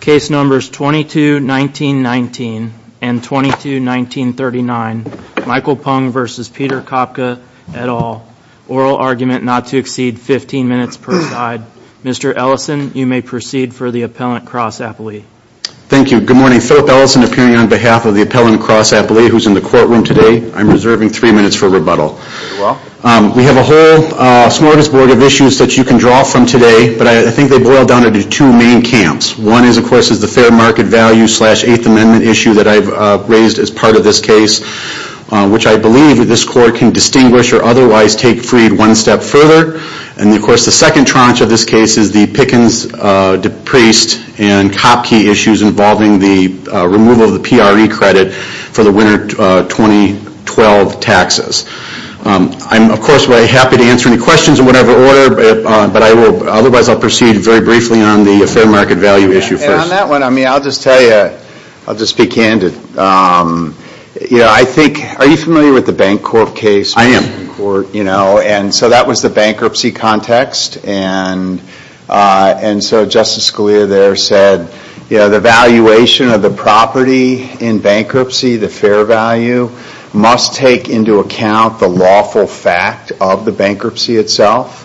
Case numbers 22, 1919 and 22, 1939. Michael Pung v. Peter Kopke, et al. Oral argument not to exceed 15 minutes per side. Mr. Ellison, you may proceed for the Appellant Cross Appellee. Thank you. Good morning. Philip Ellison appearing on behalf of the Appellant Cross Appellee who's in the courtroom today. I'm reserving three minutes for rebuttal. We have a whole smorgasbord of issues that you can draw from today, but I think they boil down into two main camps. One is of course is the fair market value slash Eighth Amendment issue that I've raised as part of this case, which I believe this court can distinguish or otherwise take free one step further. And of course the second tranche of this case is the Pickens-DePriest and Kopke issues involving the removal of the PRE credit for the winter 2012 taxes. I'm of course very happy to answer any questions in whatever order, but otherwise I'll proceed very briefly on the fair market value issue first. And on that one, I mean, I'll just tell you, I'll just be candid. You know, I think, are you familiar with the Bancorp case? I am. You know, and so that was the bankruptcy context and and so Justice Scalia there said, you know, the valuation of the property in bankruptcy, the fair value, must take into account the lawful fact of the bankruptcy itself.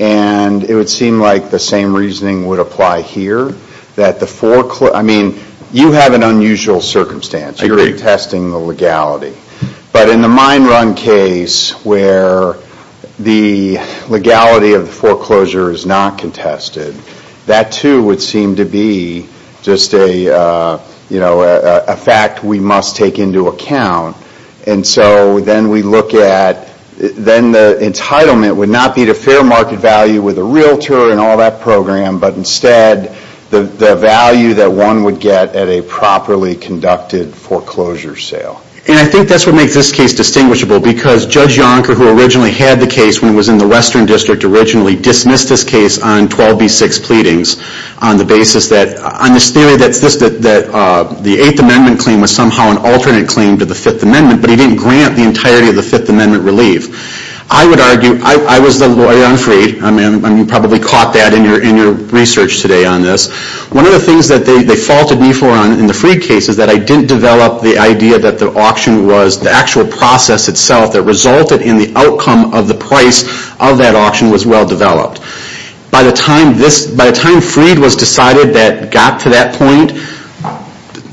And it would seem like the same reasoning would apply here, that the foreclosure, I mean, you have an unusual circumstance. You're contesting the legality. But in the mine run case where the legality of the foreclosure is not contested, that too would seem to be just a, you know, a fact we must take into account. And so then we look at, then the entitlement would not be to fair market value with a realtor and all that program, but instead the value that one would get at a properly conducted foreclosure sale. And I think that's what makes this case distinguishable, because Judge Yonker, who originally had the case when it was in the Western District, originally dismissed this case on 12b-6 pleadings on the basis that, on this theory that the 8th Amendment claim was somehow an alternate claim to the 5th Amendment, but he didn't grant the entirety of the 5th Amendment relief. I would argue, I was the lawyer on Freed, I mean, you probably caught that in your research today on this. One of the things that they faulted me for in the Freed case is that I didn't develop the idea that the auction was the actual process itself that resulted in the outcome of the price of that auction was well-developed. By the time this, by the time Freed was decided that got to that point,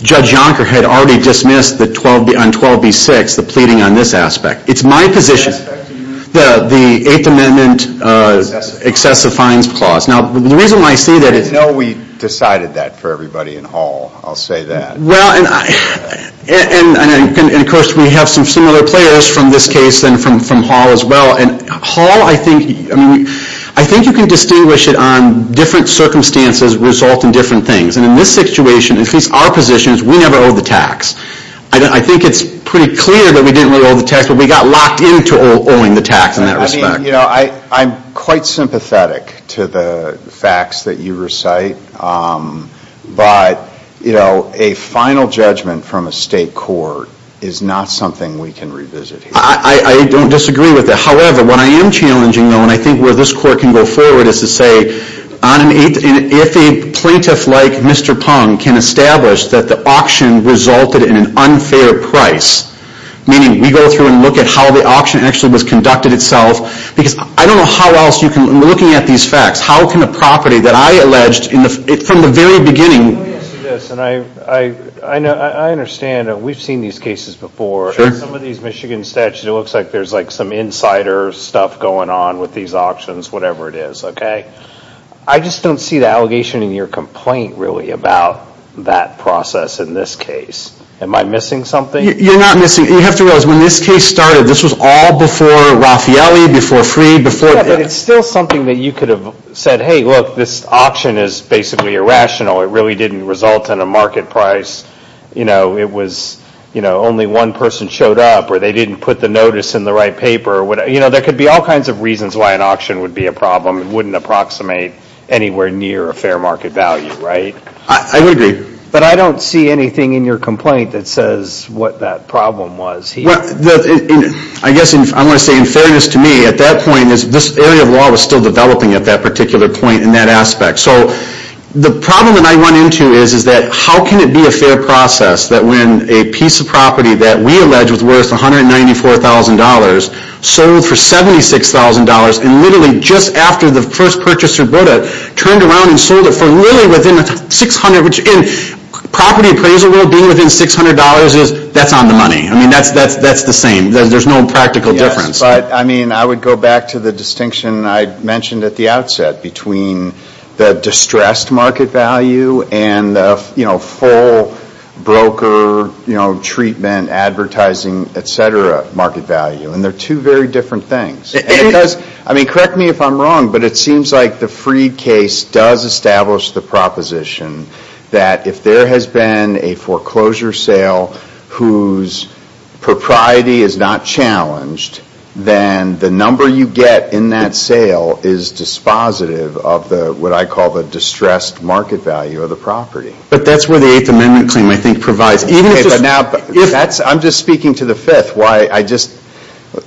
Judge Yonker had already dismissed the 12b, on 12b-6, the pleading on this aspect. It's my position, the 8th Amendment excessive fines clause. Now, the reason why I say that is... I know we decided that for everybody in Hall, I'll say that. Well, and I, and of course we have some similar players from this case and from Hall as well, and Hall, I think, I mean, I think you can distinguish it on different circumstances result in different things. And in this situation, at least our position, is we never owed the tax. I think it's pretty clear that we didn't really owe the tax, but we got locked into owing the tax in that respect. I mean, you know, I'm quite sympathetic to the facts that you recite, but, you know, a final judgment from a state court is not something we can revisit here. I don't disagree with that. However, what I am challenging, though, and I think where this court can go forward is to say on an 8th, if a plaintiff like Mr. Pung can establish that the auction resulted in an unfair price, meaning we go through and look at how the auction actually was conducted itself, because I don't know how else you can, looking at these facts, how can a property that I alleged in the, from the very beginning... Let me ask you this, and I understand that we've seen these cases before. Sure. In some of these Michigan statutes, it looks like there's like some insider stuff going on with these auctions, whatever it is, okay? I just don't see the allegation in your complaint, really, about that process in this case. Am I missing something? You're not missing. You have to realize, when this case started, this was all before Raffaelli, before Freed, before... Yeah, but it's still something that you could have said, hey, look, this auction is basically irrational. It really didn't result in a market price. You know, it was, you know, only one person showed up, or they didn't put the notice in the right paper, or whatever. You know, there could be all kinds of reasons why an auction would be a problem. It wouldn't approximate anywhere near a fair market value, right? I would agree. But I don't see anything in your complaint that says what that problem was here. Well, I guess I'm going to say, in fairness to me, at that point, this area of law was still developing at that particular point in that aspect. So, the problem that I run into is, is that, how can it be a fair process that when a piece of property that we allege was worth $194,000 sold for $76,000, and literally just after the first purchaser bought it, turned around and sold it for really within $600,000, which in property appraisal rule, being within $600 is, that's on the money. I mean, that's the same. There's no practical difference. But, I mean, I would go back to the distinction I mentioned at the outset between the distressed market value and the, you know, full broker, you know, treatment, advertising, et cetera, market value. And they're two very different things. And it does, I mean, correct me if I'm wrong, but it seems like the Freed case does establish the proposition that if there has been a foreclosure sale whose propriety is not challenged, then the number you get in that sale is dispositive of the, what I call, the distressed market value of the property. But that's where the Eighth Amendment claim, I think, provides. Even if it's just. But now, that's, I'm just speaking to the Fifth. Why, I just,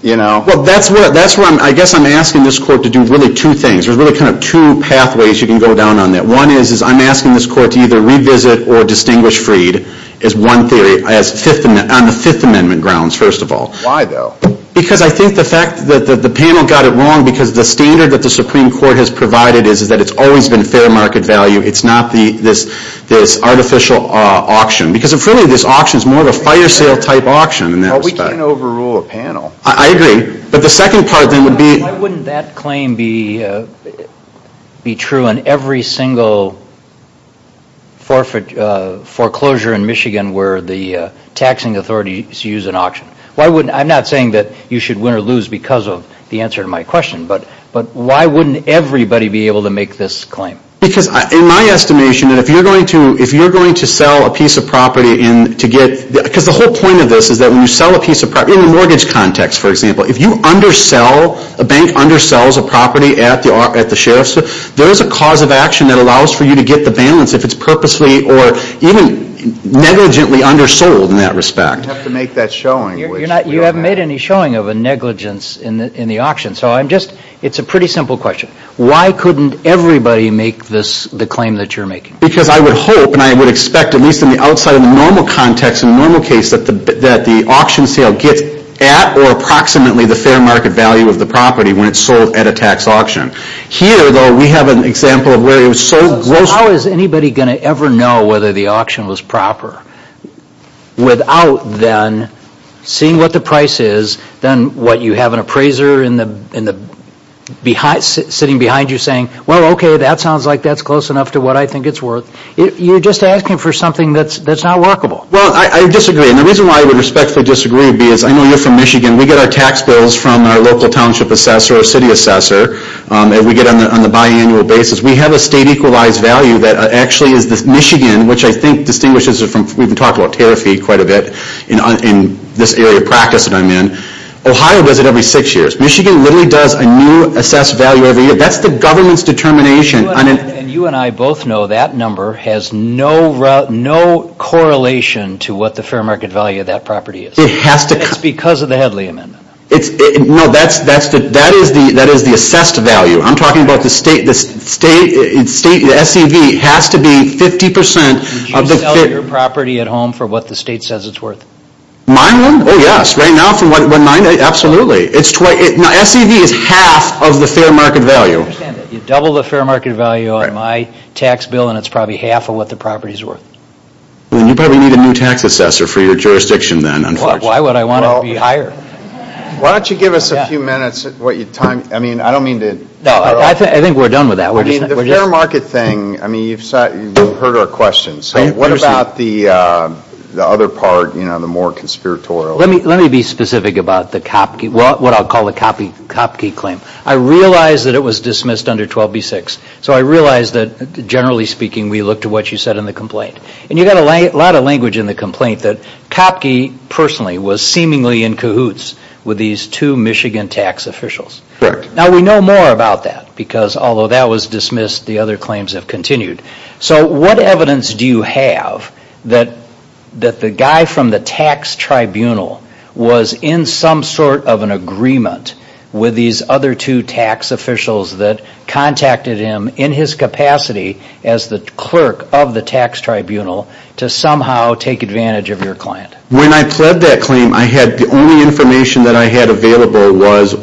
you know. Well, that's where, that's where I'm, I guess I'm asking this court to do really two things. There's really kind of two pathways you can go down on that. One is, is I'm asking this court to either revisit or distinguish Freed is one theory. On the Fifth Amendment grounds, first of all. Why, though? Because I think the fact that the panel got it wrong because the standard that the Supreme Court has provided is that it's always been fair market value. It's not the, this artificial auction. Because if really this auction is more of a fire sale type auction in that respect. Well, we can't overrule a panel. I agree. But the second part then would be. Why wouldn't that claim be true in every single foreclosure in Michigan where the taxing authorities use an auction? Why wouldn't, I'm not saying that you should win or lose because of the answer to my question. But why wouldn't everybody be able to make this claim? Because in my estimation, if you're going to sell a piece of property and to get, because the whole point of this is that when you sell a piece of property, in a mortgage context, for example. If you undersell, a bank undersells a property at the sheriff's, there is a cause of action that allows for you to get the balance if it's purposely or even negligently undersold in that respect. You have to make that showing. You're not, you haven't made any showing of a negligence in the auction. So I'm just, it's a pretty simple question. Why couldn't everybody make this, the claim that you're making? Because I would hope and I would expect, at least in the outside of the normal context, in the normal case, that the auction sale gets at or approximately the fair market value of the property when it's sold at a tax auction. Here, though, we have an example of where it was sold. How is anybody going to ever know whether the auction was proper without then seeing what the price is, then what you have an appraiser sitting behind you saying, well, okay, that sounds like that's close enough to what I think it's worth. You're just asking for something that's not workable. Well, I disagree. And the reason why I would respectfully disagree is I know you're from Michigan. We get our tax bills from our local township assessor or city assessor, and we get them on a biannual basis. We have a state equalized value that actually is this Michigan, which I think distinguishes it from, we've been talking about tariff fee quite a bit in this area of practice that I'm in. Ohio does it every six years. Michigan literally does a new assessed value every year. That's the government's determination. And you and I both know that number has no correlation to what the fair market value of that property is. It has to. It's because of the Headley Amendment. No, that is the assessed value. I'm talking about the state, the SEV has to be 50% of the. Would you sell your property at home for what the state says it's worth? My home? Oh, yes. Right now, for what, 90? Absolutely. SEV is half of the fair market value. You double the fair market value on my tax bill, and it's probably half of what the property is worth. Then you probably need a new tax assessor for your jurisdiction then, unfortunately. Why would I want to be hired? Why don't you give us a few minutes, what your time, I mean, I don't mean to. No, I think we're done with that. I mean, the fair market thing, I mean, you've heard our question. So what about the other part, you know, the more conspiratorial? Let me be specific about the Kopke, what I'll call the Kopke claim. I realize that it was dismissed under 12b-6. So I realize that, generally speaking, we look to what you said in the complaint. And you got a lot of language in the complaint that Kopke, personally, was seemingly in cahoots with these two Michigan tax officials. Now, we know more about that, because although that was dismissed, the other claims have continued. So what evidence do you have that the guy from the tax tribunal was in some sort of an agreement with these other two tax officials that contacted him in his capacity as the clerk of the tax tribunal to somehow take advantage of your client? When I pled that claim, I had, the only information that I had available was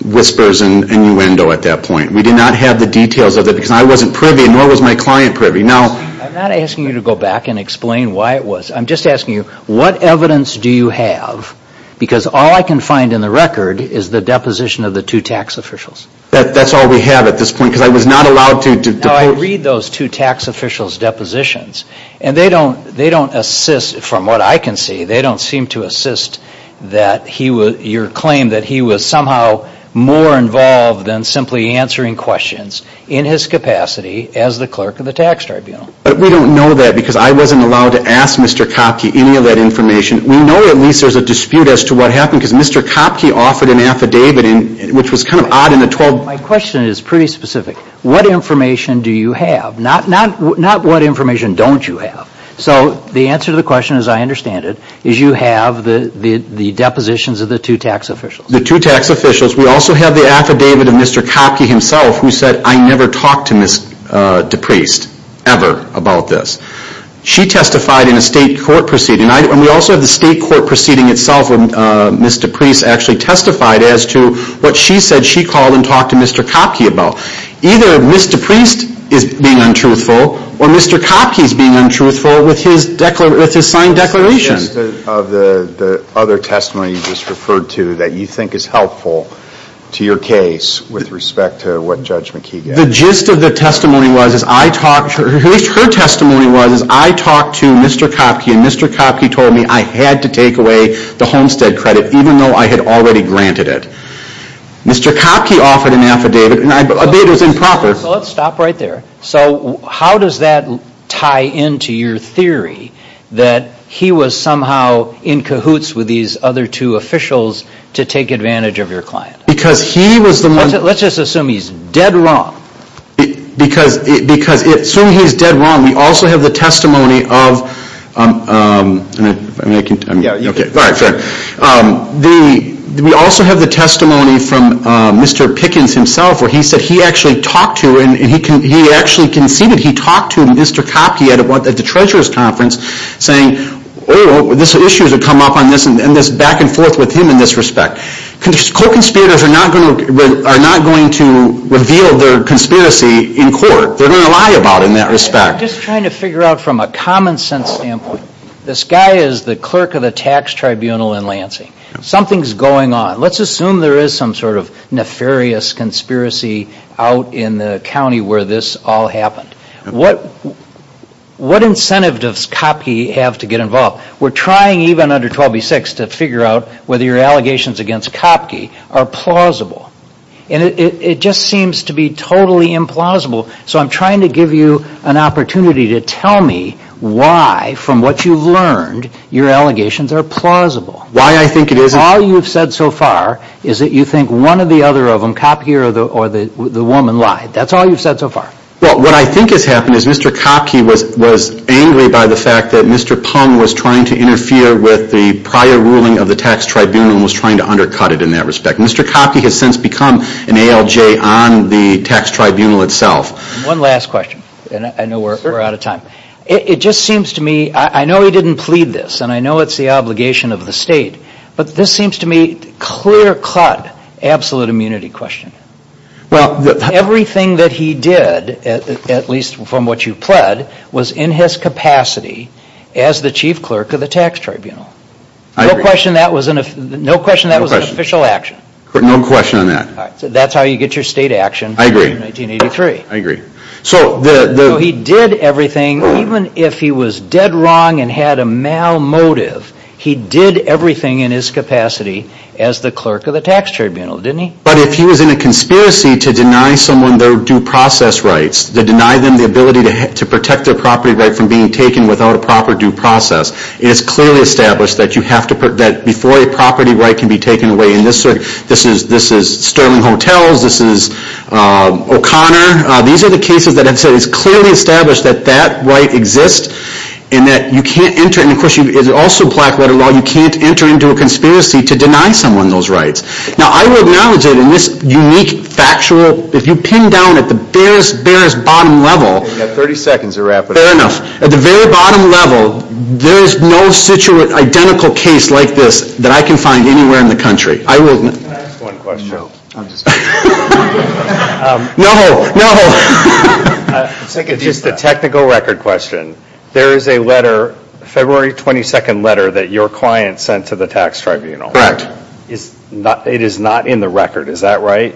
whispers and innuendo at that point. We did not have the details of it, because I wasn't privy, nor was my client privy. I'm not asking you to go back and explain why it was. I'm just asking you, what evidence do you have? Because all I can find in the record is the deposition of the two tax officials. That's all we have at this point, because I was not allowed to depose. No, I read those two tax officials' depositions. And they don't assist, from what I can see, they don't seem to assist that he was, your claim that he was somehow more involved than simply answering questions in his capacity as the clerk of the tax tribunal. But we don't know that, because I wasn't allowed to ask Mr. Kopke any of that information. We know at least there's a dispute as to what happened, because Mr. Kopke offered an affidavit, which was kind of odd in the 12. My question is pretty specific. What information do you have? Not what information don't you have. So the answer to the question, as I understand it, is you have the depositions of the two tax officials. The two tax officials. We also have the affidavit of Mr. Kopke himself, who said, I never talked to Ms. DePriest, ever, about this. She testified in a state court proceeding. And we also have the state court proceeding itself where Ms. DePriest actually testified as to what she said she called and talked to Mr. Kopke about. Either Ms. DePriest is being untruthful, or Mr. Kopke's being untruthful with his signed declaration. The gist of the other testimony you just referred to that you think is helpful to your case with respect to what Judge McKee gave. The gist of the testimony was, at least her testimony was, is I talked to Mr. Kopke, and Mr. Kopke told me I had to take away the Homestead credit, even though I had already granted it. Mr. Kopke offered an affidavit, and I believe it was improper. So let's stop right there. So how does that tie into your theory that he was somehow in cahoots with these other two officials to take advantage of your client? Because he was the one. Let's just assume he's dead wrong. Because assuming he's dead wrong, we also have the testimony of, I mean, I can, I mean, okay, all right, fair, we also have the testimony from Mr. Pickens himself where he said he actually talked to, and he actually conceded he talked to Mr. Kopke at the Treasurer's Conference saying, oh, these issues have come up on this, and this back and forth with him in this respect. Co-conspirators are not going to reveal their conspiracy in court. They're going to lie about it in that respect. I'm just trying to figure out from a common sense standpoint. This guy is the clerk of the tax tribunal in Lansing. Something's going on. Let's assume there is some sort of nefarious conspiracy out in the county where this all happened. What incentive does Kopke have to get involved? We're trying even under 12B6 to figure out whether your allegations against Kopke are plausible. And it just seems to be totally implausible. So I'm trying to give you an opportunity to tell me why, from what you've learned, your allegations are plausible. Why I think it is all you've said so far is that you think one or the other of them, Kopke or the woman, lied. That's all you've said so far. Well, what I think has happened is Mr. Kopke was angry by the fact that Mr. Pong was trying to interfere with the prior ruling of the tax tribunal and was trying to undercut it in that respect. Mr. Kopke has since become an ALJ on the tax tribunal itself. One last question, and I know we're out of time. It just seems to me, I know he didn't plead this, and I know it's the obligation of the state, but this seems to me clear-cut absolute immunity question. Well, everything that he did, at least from what you pled, was in his capacity as the chief clerk of the tax tribunal. No question that was an official action. No question on that. That's how you get your state action in 1983. I agree. So he did everything, even if he was dead wrong and had a mal-motive, he did everything in his capacity as the clerk of the tax tribunal, didn't he? But if he was in a conspiracy to deny someone their due process rights, to deny them the ability to protect their property right from being taken without a proper due process, it is clearly established that before a property right can be taken away in this circuit, this is Sterling Hotels, this is O'Connor, these are the cases that have said it's clearly established that that right exists, and that you can't enter, and of course, it's also black-letter law, you can't enter into a conspiracy to deny someone those rights. Now, I will acknowledge it in this unique, factual, if you pin down at the barest, barest bottom level- You've got 30 seconds to wrap it up. Fair enough. At the very bottom level, there is no situated, identical case like this that I can find anywhere in the country. I will- Can I ask one question? No, I'm just kidding. No, no. Just a technical record question. There is a letter, a February 22nd letter that your client sent to the tax tribunal. Correct. It is not in the record, is that right?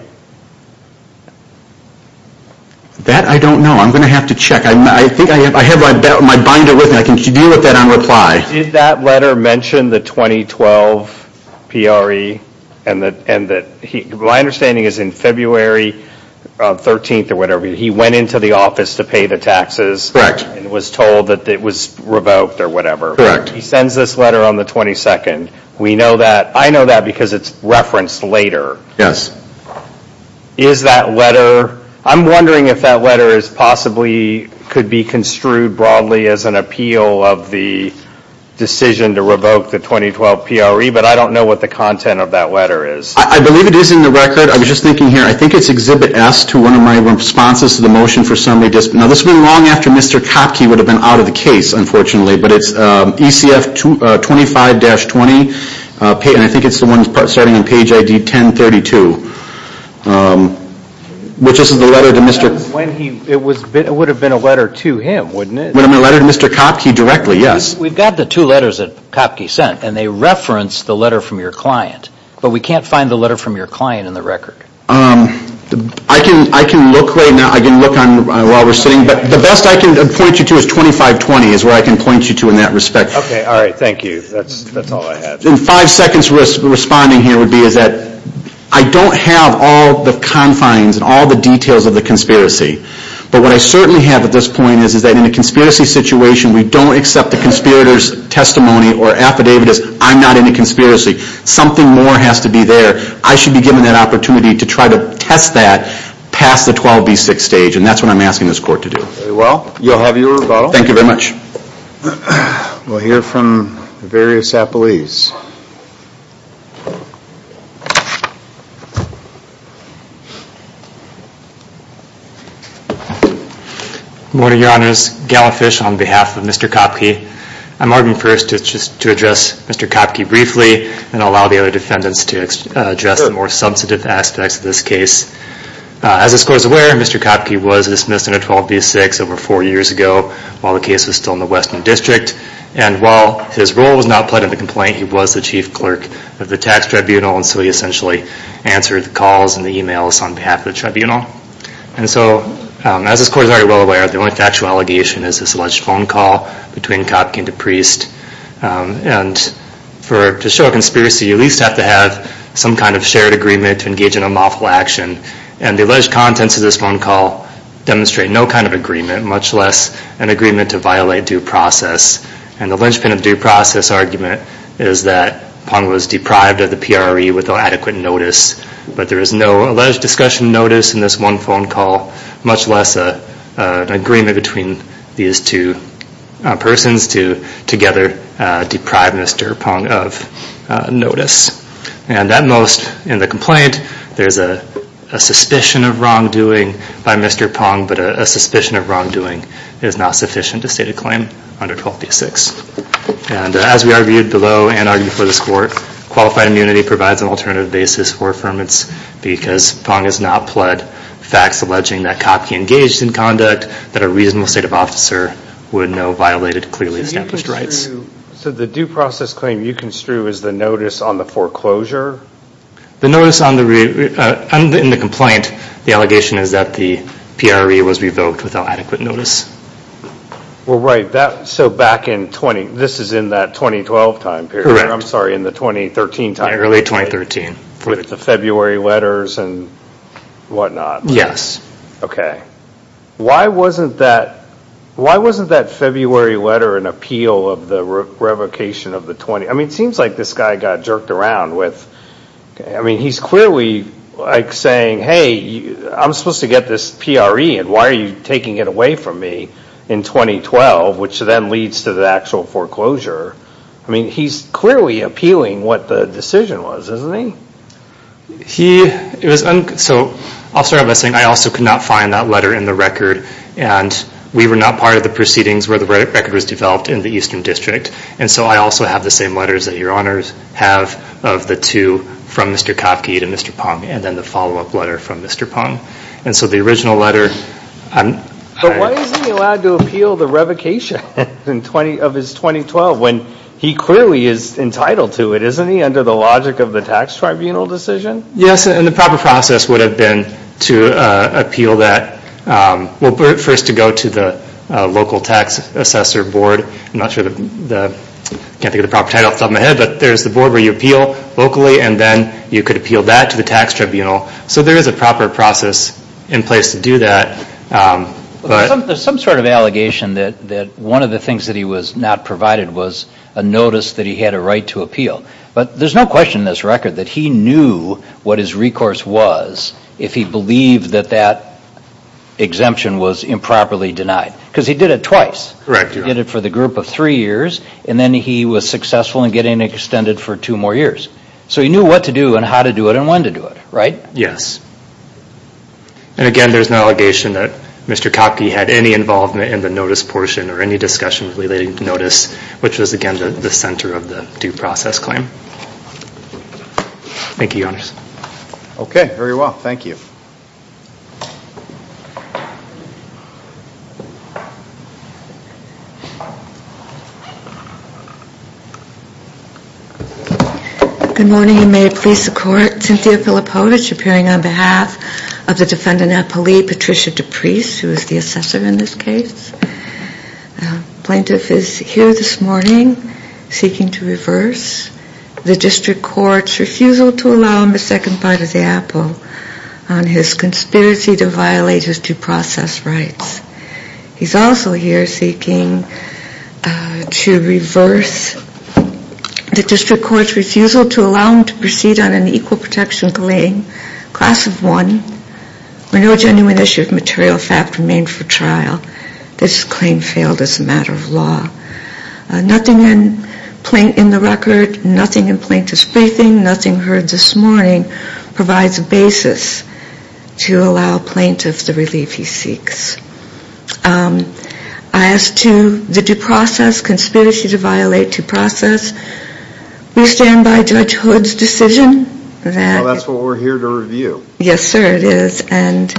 That I don't know, I'm going to have to check. I think I have my binder with me, I can deal with that on reply. Did that letter mention the 2012 PRE, and my understanding is in February 13th or whatever, he went into the office to pay the taxes and was told that it was revoked or whatever. Correct. He sends this letter on the 22nd. We know that, I know that because it's referenced later. Yes. Is that letter, I'm wondering if that letter is possibly, could be construed broadly as an appeal of the decision to revoke the 2012 PRE, but I don't know what the content of that letter is. I believe it is in the record, I was just thinking here, I think it's Exhibit S to one of my responses to the motion for summary, now this would have been long after Mr. Kopke would have been out of the case unfortunately, but it's ECF 25-20, and I think it's the one starting on page ID 1032, which is the letter to Mr. It would have been a letter to him, wouldn't it? A letter to Mr. Kopke directly, yes. We've got the two letters that Kopke sent, and they reference the letter from your client, but we can't find the letter from your client in the record. I can look right now, I can look while we're sitting, but the best I can point you to is 25-20 is where I can point you to in that respect. Okay, all right, thank you, that's all I have. In five seconds responding here would be is that, I don't have all the confines and all the details of the conspiracy, but what I certainly have at this point is that in a conspiracy situation, we don't accept the conspirator's testimony or affidavit as, I'm not in a conspiracy. Something more has to be there. I should be given that opportunity to try to test that past the 12B6 stage, and that's what I'm asking this court to do. Very well, you'll have your rebuttal. Thank you very much. We'll hear from various appellees. Good morning, your honors. Gala Fish on behalf of Mr. Kopke. I'm arguing first to address Mr. Kopke briefly and allow the other defendants to address the more substantive aspects of this case. As this court is aware, Mr. Kopke was dismissed under 12B6 over four years ago while the case was still in the Western District, and while his role was not played in the complaint, he was the chief clerk of the tax tribunal, and so he essentially answered the calls and the emails on behalf of the tribunal. And so, as this court is already well aware, the only factual allegation is this alleged phone call between Kopke and DePriest. And to show a conspiracy, you at least have to have some kind of shared agreement to engage in unlawful action, and the alleged contents of this phone call demonstrate no kind of agreement, much less an agreement to violate due process. And the linchpin of due process argument is that Pong was deprived of the PRE without adequate notice, but there is no alleged discussion notice in this one phone call, much less an agreement between these two persons to together deprive Mr. Pong of notice. And at most in the complaint, there's a suspicion of wrongdoing by Mr. Pong, but a suspicion of wrongdoing is not sufficient to state a claim under 12B6. And as we argued below and argued before this court, qualified immunity provides an alternative basis for affirmance because Pong has not pled facts alleging that Kopke engaged in conduct that a reasonable state of officer would know violated clearly established rights. So the due process claim you construe is the notice on the foreclosure? The notice in the complaint, the allegation is that the PRE was revoked without adequate notice. Well, right. So back in 20, this is in that 2012 time period. I'm sorry, in the 2013 time period. Early 2013. With the February letters and whatnot. Yes. OK. Why wasn't that February letter an appeal of the revocation of the 20? I mean, it seems like this guy got jerked around with, I mean, he's clearly like saying, hey, I'm supposed to get this PRE and why are you taking it away from me in 2012, which then leads to the actual foreclosure. I mean, he's clearly appealing what the decision was, isn't he? He, it was, so I'll start by saying I also could not find that letter in the record and we were not part of the proceedings where the record was developed in the Eastern District. And so I also have the same letters that your honors have of the two from Mr. Kopke to Mr. Pong and then the follow-up letter from Mr. Pong. And so the original letter, I'm. But why isn't he allowed to appeal the revocation of his 2012 when he clearly is entitled to it, isn't he? Under the logic of the tax tribunal decision? Yes, and the proper process would have been to appeal that, well, first to go to the local tax assessor board. I'm not sure the, I can't think of the proper title off the top of my head, but there's the board where you appeal locally and then you could appeal that to the tax tribunal. So there is a proper process in place to do that. But. There's some sort of allegation that one of the things that he was not provided was a notice that he had a right to appeal. But there's no question in this record that he knew what his recourse was if he believed that that exemption was improperly denied. Because he did it twice. Correct, your honor. He did it for the group of three years, and then he was successful in getting it extended for two more years. So he knew what to do and how to do it and when to do it, right? Yes. And again, there's an allegation that Mr. Kopke had any involvement in the notice portion or any discussion relating to notice, which was again the center of the due process claim. Thank you, your honors. Okay, very well. Thank you. Good morning and may it please the court. Cynthia Filipowicz appearing on behalf of the defendant at police, Patricia DePriest, who is the assessor in this case. Plaintiff is here this morning seeking to reverse the district court's refusal to allow him a second bite of the apple on his conspiracy to violate his due process rights. He's also here seeking to reverse the district court's refusal to allow him to proceed on an equal protection claim, class of one, where no genuine issue of material fact remained for trial. This claim failed as a matter of law. Nothing in the record, nothing in plaintiff's briefing, nothing heard this morning provides a basis to allow plaintiff the relief he seeks. As to the due process, conspiracy to violate due process, we stand by Judge Hood's decision that Well, that's what we're here to review. Yes, sir, it is. And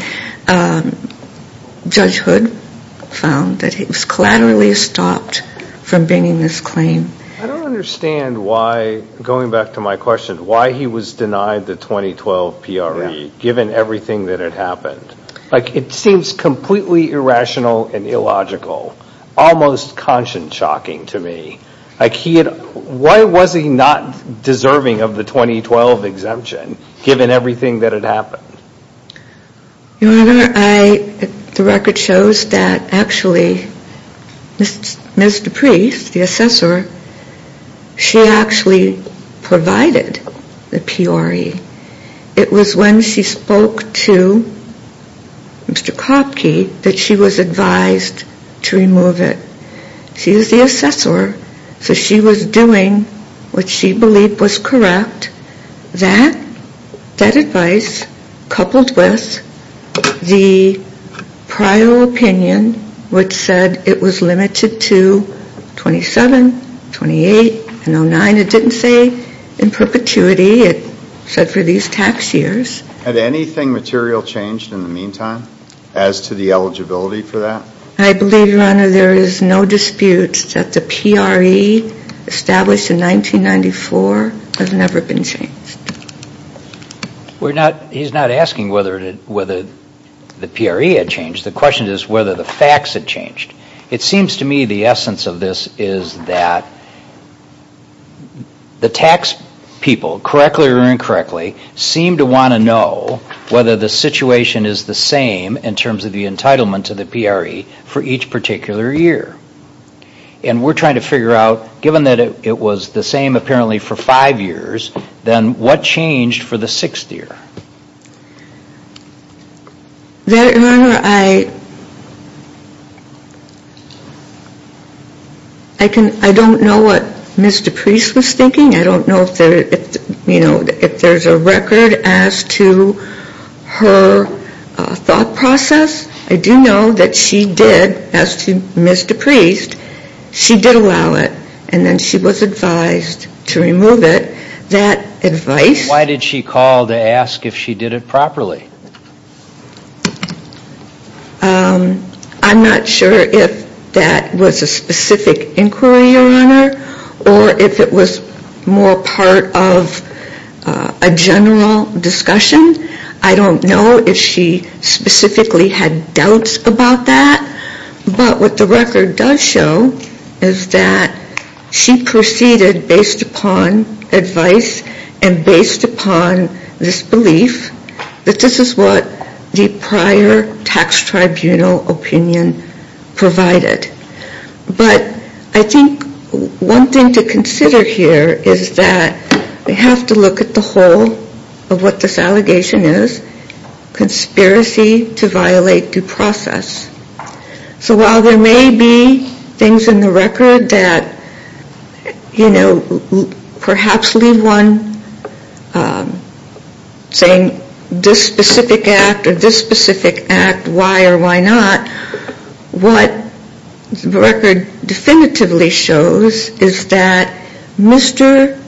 Judge Hood found that he was collaterally stopped from bringing this claim. I don't understand why, going back to my question, why he was denied the 2012 PRE given everything that had happened. Like, it seems completely irrational and illogical, almost conscience shocking to me. Why was he not deserving of the 2012 exemption given everything that had happened? Your Honor, the record shows that actually Ms. DePriest, the assessor, she actually provided the PRE. It was when she spoke to Mr. Kopke that she was advised to remove it. She is the assessor, so she was doing what she believed was correct. That, that advice, coupled with the prior opinion, which said it was limited to 27, 28, and 09. It didn't say in perpetuity, it said for these tax years. Had anything material changed in the meantime as to the eligibility for that? I believe, Your Honor, there is no dispute that the PRE established in 1994 has never been changed. We're not, he's not asking whether the PRE had changed. The question is whether the facts had changed. It seems to me the essence of this is that the tax people, correctly or incorrectly, seem to want to know whether the situation is the same in terms of the entitlement to the PRE for each particular year. And we're trying to figure out, given that it was the same apparently for five years, then what changed for the sixth year? That, Your Honor, I, I can, I don't know what Ms. DePriest was thinking. I don't know if there, if, you know, if there's a record as to her thought process. I do know that she did, as to Ms. DePriest, she did allow it. And then she was advised to remove it. That advice. Why did she call to ask if she did it properly? I'm not sure if that was a specific inquiry, Your Honor. Or if it was more part of a general discussion. I don't know if she specifically had doubts about that. But what the record does show is that she proceeded based upon advice and based upon this belief that this is what the prior tax tribunal opinion provided. But I think one thing to consider here is that we have to look at the whole of what this allegation is. Conspiracy to violate due process. So while there may be things in the record that, you know, perhaps leave one saying this specific act or this specific act, why or why not? What the record definitively shows is that Mr.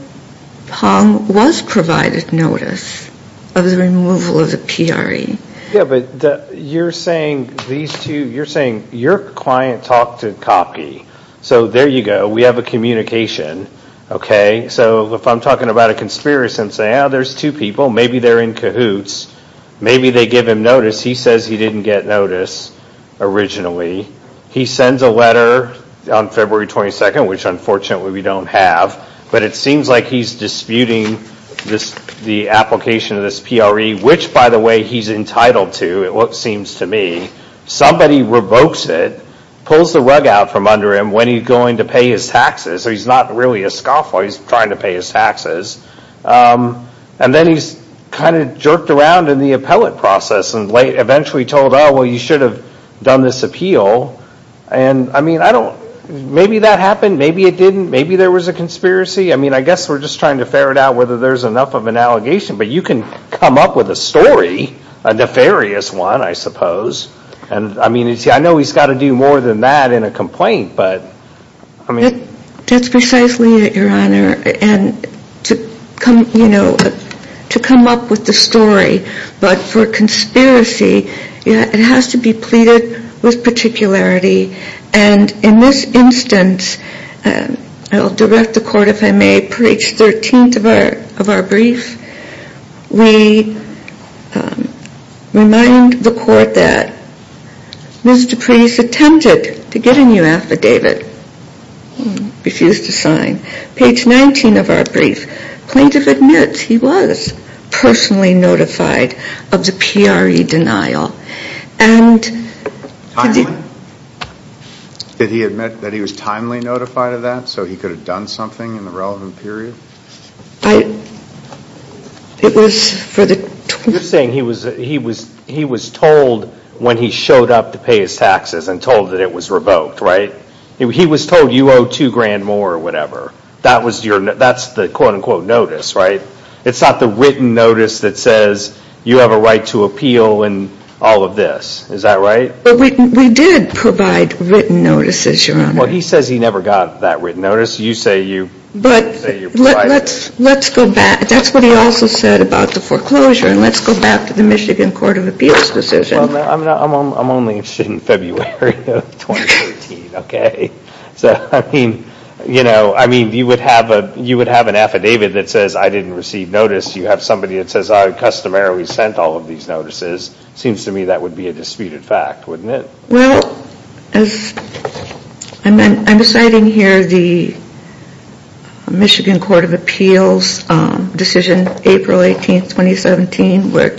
Pong was provided notice of the removal of the PRE. Yeah, but you're saying these two, you're saying your client talked to Kopke. So there you go. We have a communication, okay. So if I'm talking about a conspiracy and saying, oh, there's two people, maybe they're in cahoots. Maybe they give him notice. He says he didn't get notice. Originally, he sends a letter on February 22nd, which unfortunately we don't have. But it seems like he's disputing the application of this PRE, which, by the way, he's entitled to, it seems to me. Somebody revokes it, pulls the rug out from under him when he's going to pay his taxes. So he's not really a scoffer. He's trying to pay his taxes. And then he's kind of jerked around in the appellate process and eventually told, well, you should have done this appeal. And I mean, I don't, maybe that happened. Maybe it didn't. Maybe there was a conspiracy. I mean, I guess we're just trying to ferret out whether there's enough of an allegation. But you can come up with a story, a nefarious one, I suppose. And I mean, I know he's got to do more than that in a complaint, but I mean. That's precisely it, Your Honor. And to come, you know, to come up with the story. But for conspiracy, it has to be pleaded with particularity. And in this instance, I'll direct the court, if I may, for each 13th of our brief, we remind the court that Ms. Dupree's attempted to get a new affidavit, refused to sign. Page 19 of our brief, plaintiff admits he was personally notified of the PRE denial. Did he admit that he was timely notified of that? So he could have done something in the relevant period? It was for the. You're saying he was told when he showed up to pay his taxes and told that it was revoked, right? He was told you owe two grand more or whatever. That's the quote-unquote notice, right? It's not the written notice that says you have a right to appeal and all of this. Is that right? But we did provide written notices, Your Honor. Well, he says he never got that written notice. You say you provided it. Let's go back. That's what he also said about the foreclosure. And let's go back to the Michigan Court of Appeals decision. Well, I'm only interested in February of 2013, okay? So, I mean, you would have an affidavit that says I didn't receive notice. You have somebody that says I customarily sent all of these notices. Seems to me that would be a disputed fact, wouldn't it? Well, I'm citing here the Michigan Court of Appeals decision, April 18, 2017, where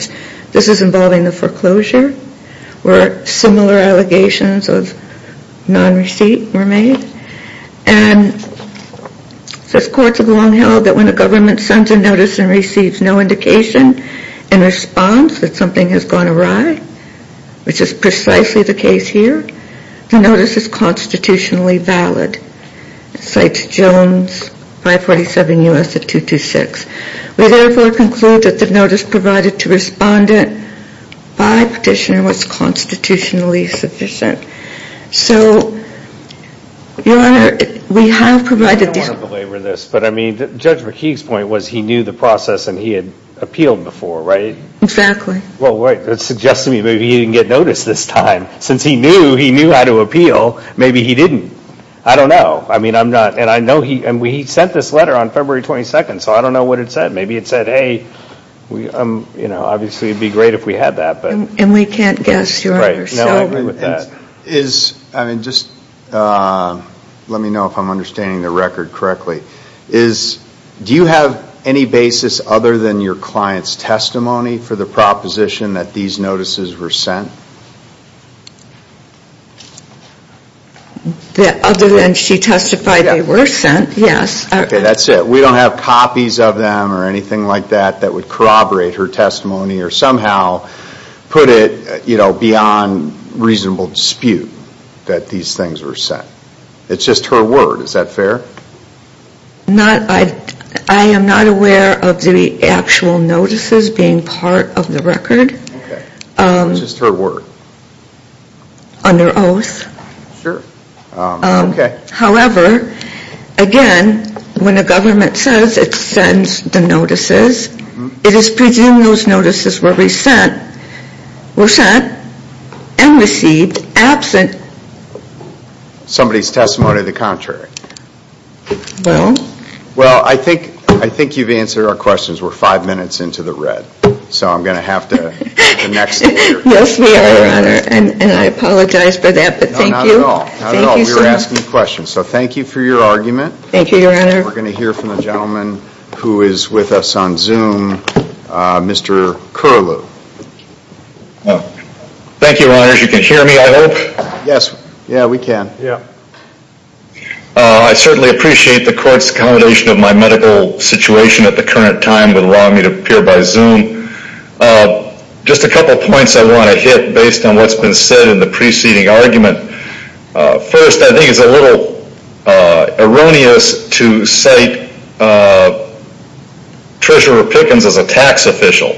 this is involving the foreclosure. Where similar allegations of non-receipt were made. And it says courts have long held that when a government sends a notice and receives no indication in response that something has gone awry, which is precisely the case here, the notice is constitutionally valid. It cites Jones 547 U.S. 226. We therefore conclude that the notice provided to respondent by petitioner was constitutionally sufficient. So, your honor, we have provided this. I don't want to belabor this, but I mean, Judge McKeague's point was he knew the process and he had appealed before, right? Exactly. Well, wait, that suggests to me maybe he didn't get notice this time. Since he knew, he knew how to appeal, maybe he didn't. I don't know. I mean, I'm not, and I know he, and he sent this letter on February 22. So, I don't know what it said. Maybe it said, hey, we, you know, obviously it would be great if we had that, but. And we can't guess, your honor. No, I agree with that. Is, I mean, just let me know if I'm understanding the record correctly. Do you have any basis other than your client's testimony for the proposition that these notices were sent? Other than she testified they were sent, yes. Okay, that's it. We don't have copies of them or anything like that that would corroborate her testimony or somehow put it, you know, beyond reasonable dispute that these things were sent. It's just her word. Is that fair? Not, I am not aware of the actual notices being part of the record. Okay, it's just her word. Under oath. Sure, okay. However, again, when the government says it sends the notices, it is presumed those notices were sent and received absent. Somebody's testimony to the contrary. Well. Well, I think, I think you've answered our questions. We're five minutes into the red, so I'm going to have to. Yes, we are, your honor. And I apologize for that, but thank you. No, not at all. Not at all. Any questions? So thank you for your argument. Thank you, your honor. We're going to hear from the gentleman who is with us on Zoom, Mr. Curlew. Thank you, your honors. You can hear me, I hope? Yes, yeah, we can. Yeah. I certainly appreciate the court's accommodation of my medical situation at the current time that allowed me to appear by Zoom. Just a couple points I want to hit based on what's been said in the preceding argument. First, I think it's a little erroneous to cite Treasurer Pickens as a tax official.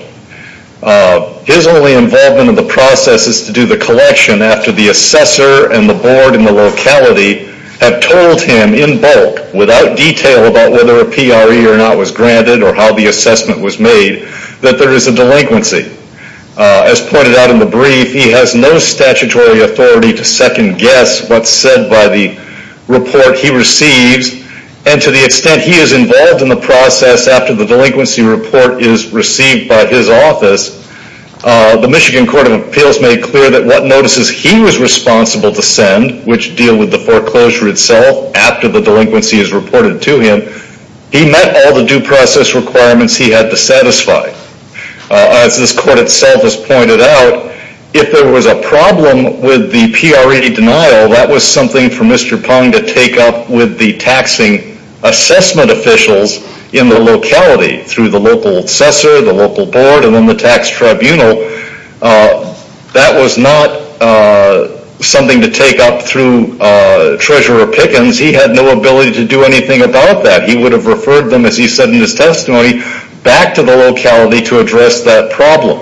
His only involvement in the process is to do the collection after the assessor and the board and the locality have told him in bulk, without detail about whether a PRE or not was granted or how the assessment was made, that there is a delinquency. As pointed out in the brief, he has no statutory authority to second guess what's said by the report he receives, and to the extent he is involved in the process after the delinquency report is received by his office, the Michigan Court of Appeals made clear that what notices he was responsible to send, which deal with the foreclosure itself after the delinquency is reported to him, he met all the due process requirements he had to satisfy. As this court itself has pointed out, if there was a problem with the PRE denial, that was something for Mr. Pong to take up with the taxing assessment officials in the locality through the local assessor, the local board, and then the tax tribunal. That was not something to take up through Treasurer Pickens. He had no ability to do anything about that. He would have referred them, as he said in his testimony, back to the locality to address that problem,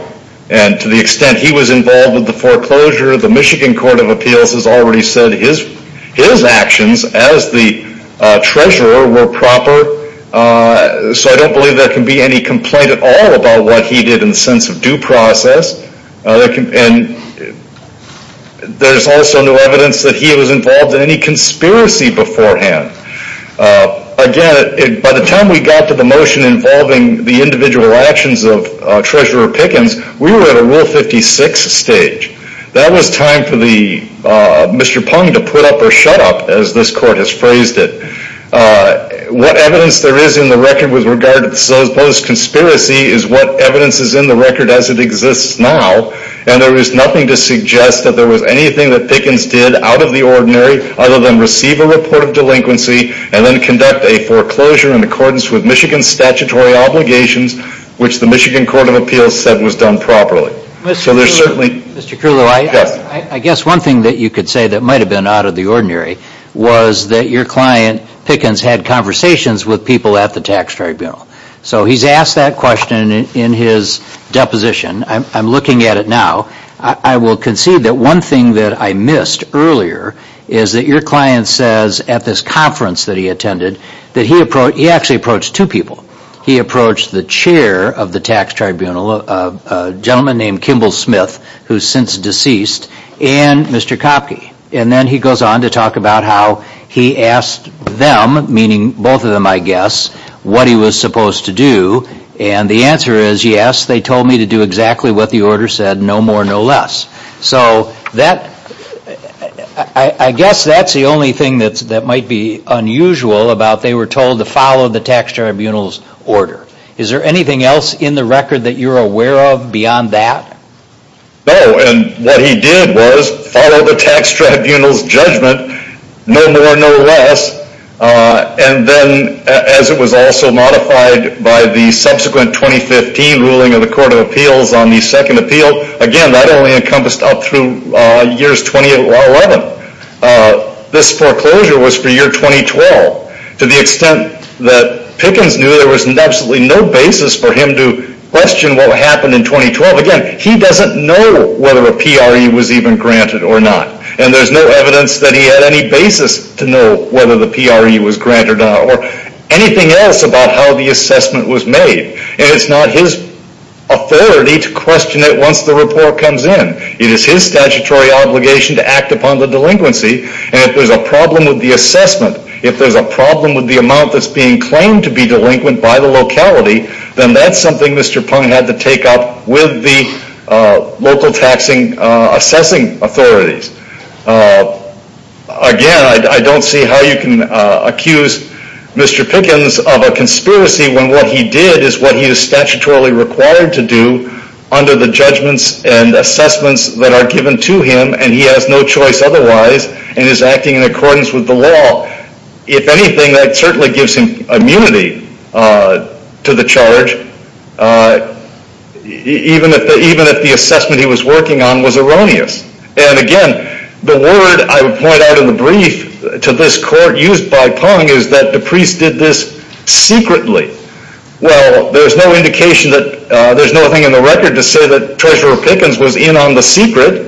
and to the extent he was involved with the foreclosure, the Michigan Court of Appeals has already said his actions as the treasurer were proper, so I don't believe there can be any complaint at all about what he did in the sense of due process. There's also no evidence that he was involved in any conspiracy beforehand. Again, by the time we got to the motion involving the individual actions of Treasurer Pickens, we were at a Rule 56 stage. That was time for Mr. Pong to put up or shut up, as this court has phrased it. What evidence there is in the record with regard to the supposed conspiracy is what evidence is in the record as it exists now, and there is nothing to suggest that there Mr. Kirlo, I guess one thing that you could say that might have been out of the ordinary was that your client, Pickens, had conversations with people at the tax tribunal. So he's asked that question in his deposition. I'm looking at it now. I will concede that one thing that I missed earlier is that your client says at this conference that he attended that he actually approached two people. He approached the chair of the tax tribunal, a gentleman named Kimball Smith, who's since deceased, and Mr. Kopke. And then he goes on to talk about how he asked them, meaning both of them, I guess, what he was supposed to do, and the answer is, yes, they told me to do exactly what the order said, no more, no less. So I guess that's the only thing that might be unusual about they were told to follow the tax tribunal's order. Is there anything else in the record that you're aware of beyond that? No, and what he did was follow the tax tribunal's judgment, no more, no less, and then as it was also modified by the subsequent 2015 ruling of the Court of Appeals on the second appeal, again, that only encompassed up through years 2011. This foreclosure was for year 2012. To the extent that Pickens knew, there was absolutely no basis for him to question what happened in 2012. Again, he doesn't know whether a PRE was even granted or not, and there's no evidence that he had any basis to know whether the PRE was granted or not, or anything else about how the assessment was made. And it's not his authority to question it once the report comes in. It is his statutory obligation to act upon the delinquency, and if there's a problem with the assessment, if there's a problem with the amount that's being claimed to be delinquent by the locality, then that's something Mr. Pund had to take up with the local taxing assessing authorities. Again, I don't see how you can accuse Mr. Pickens of a conspiracy when what he did is what he is statutorily required to do under the judgments and assessments that are given to him, and he has no choice otherwise, and is acting in accordance with the law. If anything, that certainly gives him immunity to the charge, even if the assessment he was working on was erroneous. And again, the word I would point out in the brief to this court used by Pund is that DePriest did this secretly. Well, there's no indication that, there's nothing in the record to say that Treasurer Pickens was in on the secret.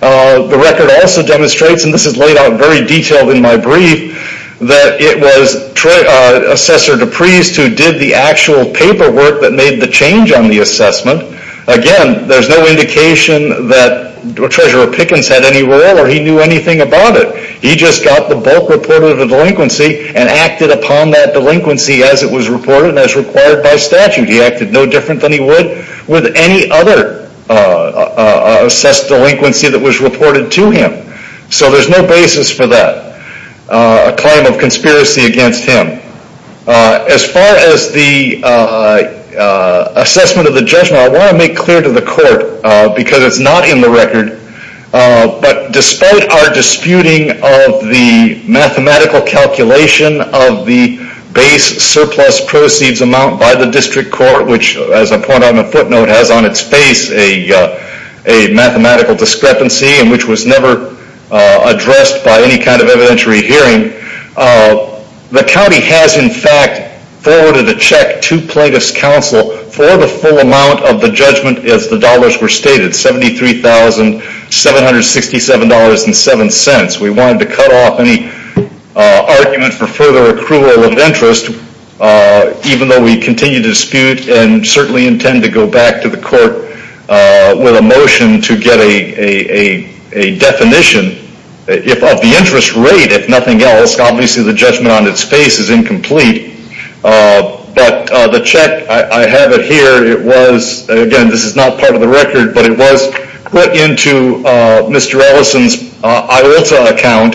The record also demonstrates, and this is laid out very detailed in my brief, that it was Assessor DePriest who did the actual paperwork that made the change on the assessment. Again, there's no indication that Treasurer Pickens had any role or he knew anything about it. He just got the bulk report of the delinquency and acted upon that delinquency as it was reported and as required by statute. He acted no different than he would with any other assessed delinquency that was reported to him. So there's no basis for that claim of conspiracy against him. As far as the assessment of the judgment, I want to make clear to the court, because it's not in the record, but despite our disputing of the mathematical calculation of the base surplus proceeds amount by the district court, which as I point out in the footnote has on its face a mathematical discrepancy and which was never addressed by any kind of evidentiary hearing, the county has in fact forwarded a check to Plaintiff's Counsel for the full amount of the judgment as the dollars were stated, $73,767.07. We wanted to cut off any argument for further accrual of interest, even though we continue to dispute and certainly intend to go back to the court with a motion to get a definition of the interest rate, if nothing else. Obviously the judgment on its face is incomplete, but the check, I have it here, it was, again this is not part of the record, but it was put into Mr. Ellison's IOLTA account.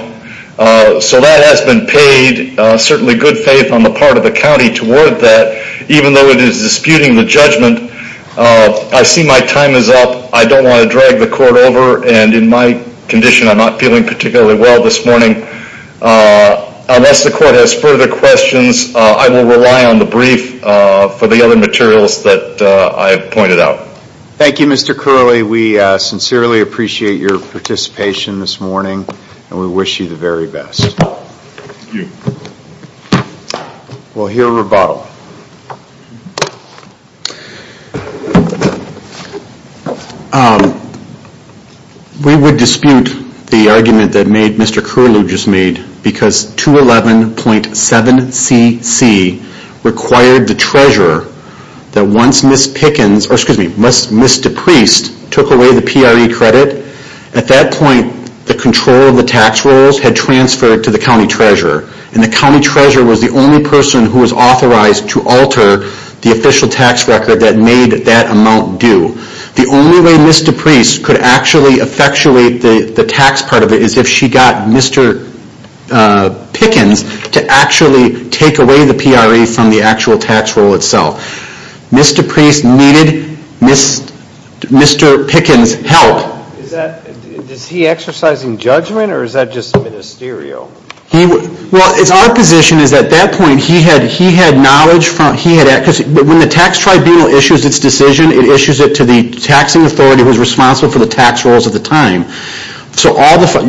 So that has been paid certainly good faith on the part of the county toward that, even though it is disputing the judgment. I see my time is up. I don't want to drag the court over and in my condition I'm not feeling particularly well this morning. Unless the court has further questions, I will rely on the brief for the other materials that I have pointed out. Thank you Mr. Curley. We sincerely appreciate your participation this morning and we wish you the very best. Thank you. We'll hear a rebuttal. We would dispute the argument that Mr. Curley just made because 211.7cc required the treasurer that once Ms. Pickens, excuse me, Ms. DePriest took away the PRE credit, at that point the control of the tax rolls had transferred to the county treasurer and the county treasurer was the only person who was authorized to alter the official tax record that made that amount due. The only way Ms. DePriest could actually effectuate the tax part of it is if she got Mr. Pickens to actually take away the PRE from the actual tax roll itself. Ms. DePriest needed Mr. Pickens' help. Is he exercising judgment or is that just ministerial? Well, it's our position is at that point he had knowledge, when the tax tribunal issues its decision, it issues it to the taxing authority who is responsible for the tax rolls at the time.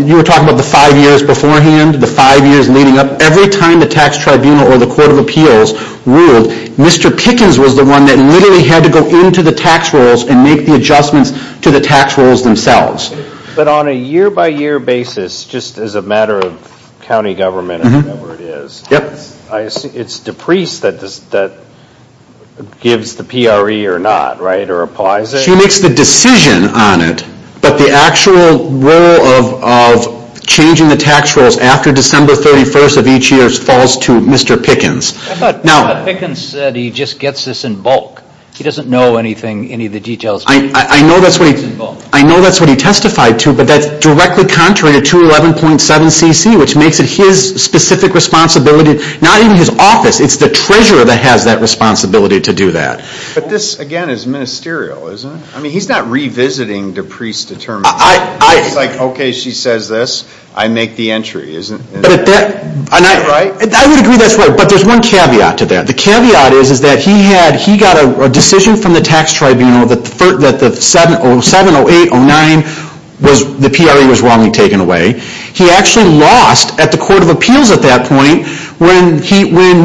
You were talking about the five years beforehand, the five years leading up, every time the tax tribunal or the court of appeals ruled, Mr. Pickens was the one that literally had to go into the tax rolls and make the adjustments to the tax rolls themselves. But on a year-by-year basis, just as a matter of county government or whatever it is, it's DePriest that gives the PRE or not, right? Or applies it? She makes the decision on it, but the actual role of changing the tax rolls after December 31st of each year falls to Mr. Pickens. I thought Mr. Pickens said he just gets this in bulk. He doesn't know anything, any of the details. I know that's what he testified to, but that's directly contrary to 211.7 CC, which makes it his specific responsibility, not even his office, it's the treasurer that has that responsibility to do that. But this, again, is ministerial, isn't it? I mean, he's not revisiting DePriest's determination. He's like, okay, she says this, I make the entry, isn't it? I would agree that's right, but there's one caveat to that. The caveat is that he got a decision from the tax tribunal that 7, 08, 09, the PRE was wrongly taken away. He actually lost at the Court of Appeals at that point when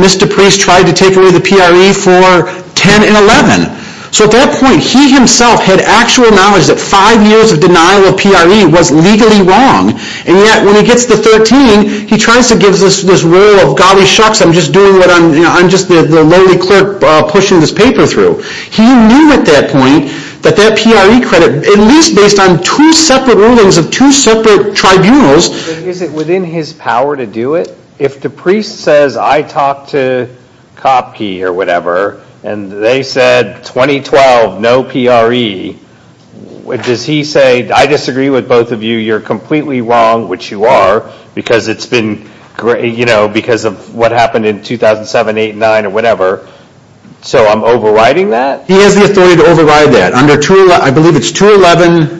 Mr. Priests tried to take away the PRE for 10 and 11. So at that point, he himself had actual knowledge that five years of denial of PRE was legally wrong, and yet when he gets to 13, he tries to give us this role of, golly shucks, I'm just doing what I'm, you know, I'm just the lowly clerk pushing this paper through. He knew at that point that that PRE credit, at least based on two separate rulings of two separate tribunals. Is it within his power to do it? If DePriest says, I talked to Kopke or whatever, and they said 2012, no PRE, does he say, I disagree with both of you, you're completely wrong, which you are, because it's been, you know, because of what happened in 2007, 08, 09, or whatever, so I'm overriding that? He has the authority to override that, under 211, I believe it's 211,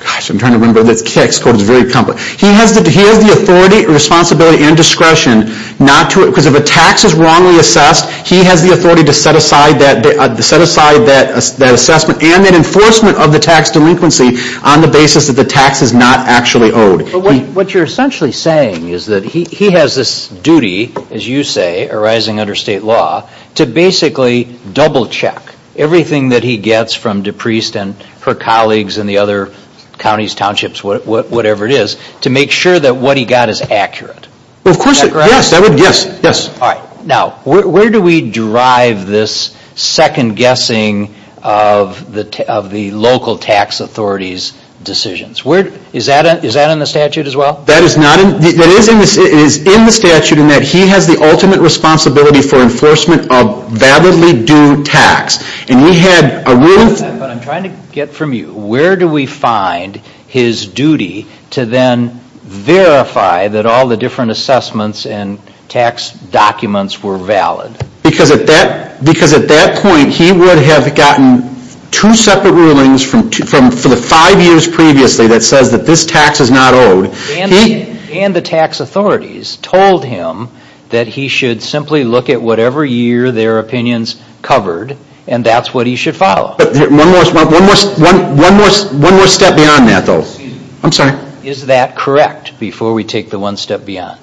gosh, I'm trying to remember, that's KX code, it's very complex, he has the authority, responsibility and discretion not to, because if a tax is wrongly assessed, he has the authority to set aside that assessment and the enforcement of the tax delinquency on the basis that the tax is not actually owed. But what you're essentially saying is that he has this duty, as you say, arising under state law, to basically double check everything that he gets from DePriest and her colleagues and the other counties, townships, whatever it is, to make sure that what he got is accurate. Of course, yes, that would, yes, yes. Now, where do we drive this second guessing of the local tax authorities' decisions? Is that in the statute as well? That is not in, it is in the statute in that he has the ultimate responsibility for enforcement of validly due tax, and he had a ruling for that, but I'm trying to get from you, where do we find his duty to then verify that all the different assessments and tax documents were valid? Because at that point, he would have gotten two separate rulings for the five years previously that says that this tax is not owed. And the tax authorities told him that he should simply look at whatever year their opinions covered and that's what he should follow. One more step beyond that, though, I'm sorry. Is that correct before we take the one step beyond?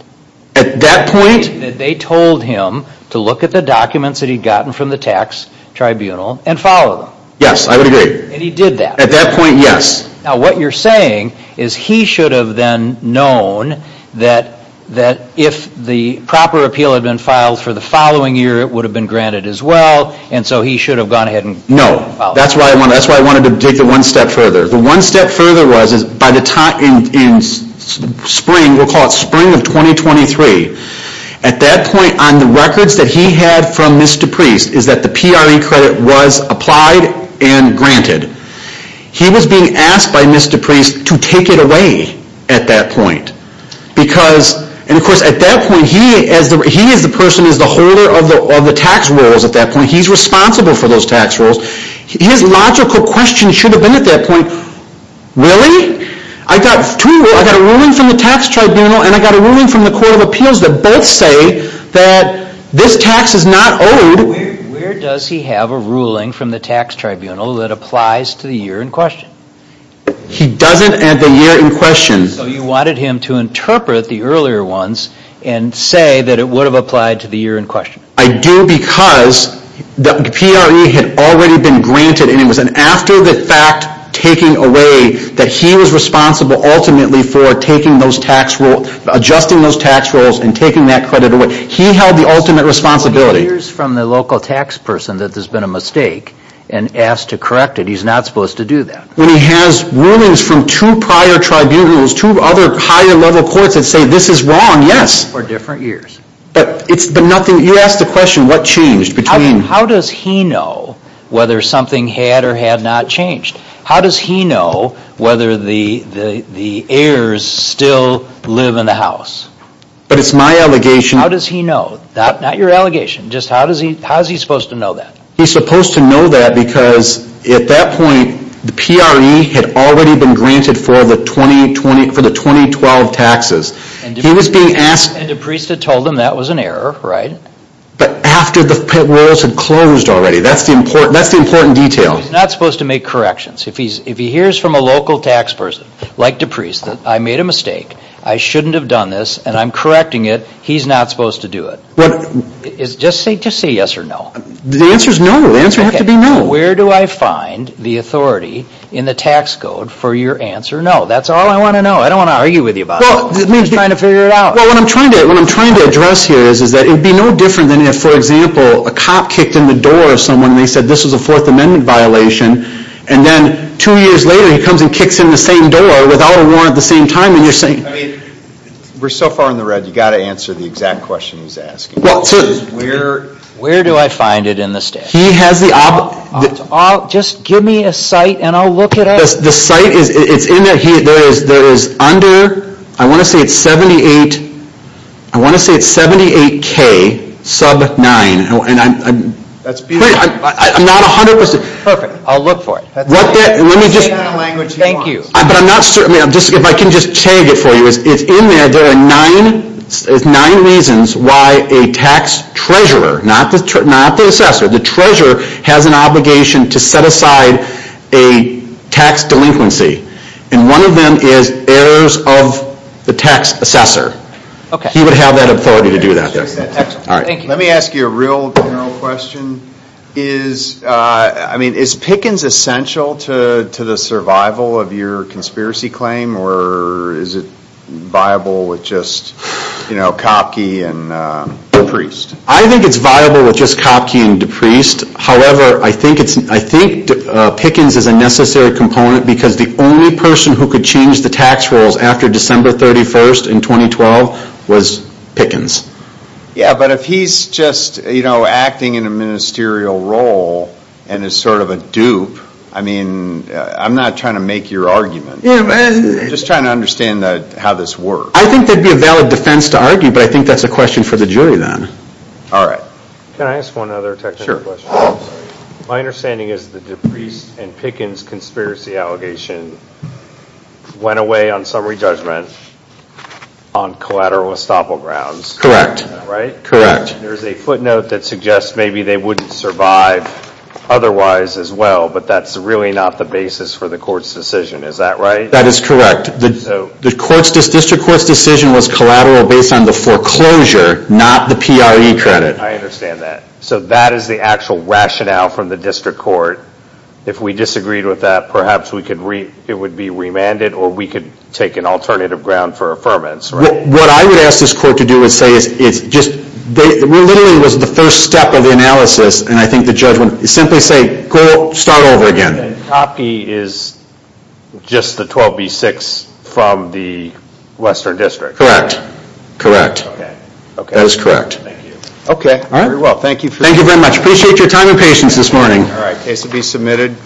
At that point? They told him to look at the documents that he'd gotten from the tax tribunal and follow them. Yes, I would agree. And he did that? At that point, yes. Now, what you're saying is he should have then known that if the proper appeal had been filed for the following year, it would have been granted as well, and so he should have gone ahead and followed it? No. That's why I wanted to take it one step further. The one step further was by the time in spring, we'll call it spring of 2023, at that point on the records that he had from Mr. Priest is that the PRE credit was applied and granted. He was being asked by Mr. Priest to take it away at that point because, and of course at that point, he is the person who is the holder of the tax rules at that point. He's responsible for those tax rules. His logical question should have been at that point, really? I got two rules. I got a ruling from the tax tribunal and I got a ruling from the court of appeals that both say that this tax is not owed. Where does he have a ruling from the tax tribunal that applies to the year in question? He doesn't at the year in question. You wanted him to interpret the earlier ones and say that it would have applied to the year in question. I do because the PRE had already been granted and it was after the fact taking away that he was responsible ultimately for taking those tax rules, adjusting those tax rules and taking that credit away. He held the ultimate responsibility. He hears from the local tax person that there's been a mistake and asked to correct it. He's not supposed to do that. When he has rulings from two prior tribunals, two other higher level courts that say this is wrong, yes. For different years. But it's been nothing, you asked the question, what changed between. How does he know whether something had or had not changed? How does he know whether the heirs still live in the house? But it's my allegation. How does he know? Not your allegation. Just how is he supposed to know that? He's supposed to know that because at that point the PRE had already been granted for the 2012 taxes. He was being asked. And DePriest had told him that was an error, right? But after the rules had closed already. That's the important detail. He's not supposed to make corrections. If he hears from a local tax person like DePriest that I made a mistake, I shouldn't have done this and I'm correcting it, he's not supposed to do it. Just say yes or no. The answer is no. The answer has to be no. Where do I find the authority in the tax code for your answer no? That's all I want to know. I don't want to argue with you about it. I'm just trying to figure it out. What I'm trying to address here is that it would be no different than if, for example, a cop kicked in the door of someone and they said this was a Fourth Amendment violation. And then two years later he comes and kicks in the same door without a warrant at the same time. I mean, we're so far in the red, you've got to answer the exact question he's asking. Where do I find it in the statute? Just give me a site and I'll look it up. The site is, it's in there, there is under, I want to say it's 78k sub 9. And I'm not 100% sure. Perfect. I'll look for it. Thank you. But I'm not, if I can just tag it for you, it's in there, there are nine reasons why a tax treasurer, not the assessor, the treasurer has an obligation to set aside a tax delinquency. And one of them is errors of the tax assessor. He would have that authority to do that. Let me ask you a real general question. Is, I mean, is Pickens essential to the survival of your conspiracy claim or is it viable with just, you know, Kopke and DePriest? I think it's viable with just Kopke and DePriest, however, I think Pickens is a necessary component because the only person who could change the tax rules after December 31st in 2012 was Pickens. Yeah, but if he's just, you know, acting in a ministerial role and is sort of a dupe, I mean, I'm not trying to make your argument. I'm just trying to understand how this works. I think that would be a valid defense to argue, but I think that's a question for the jury then. All right. Can I ask one other technical question? My understanding is that the DePriest and Pickens conspiracy allegation went away on summary judgment on collateral estoppel grounds. Right? Correct. There's a footnote that suggests maybe they wouldn't survive otherwise as well, but that's really not the basis for the court's decision. Is that right? That is correct. The district court's decision was collateral based on the foreclosure, not the PRE credit. I understand that. So that is the actual rationale from the district court. If we disagreed with that, perhaps it would be remanded or we could take an alternative ground for affirmance. What I would ask this court to do is say, it literally was the first step of the analysis, and I think the judge would simply say, go start over again. The copy is just the 12B6 from the Western District. Correct. That is correct. Okay. Very well. Thank you. Thank you very much. Thank you very much. Appreciate your time and patience this morning. All right. Case will be submitted.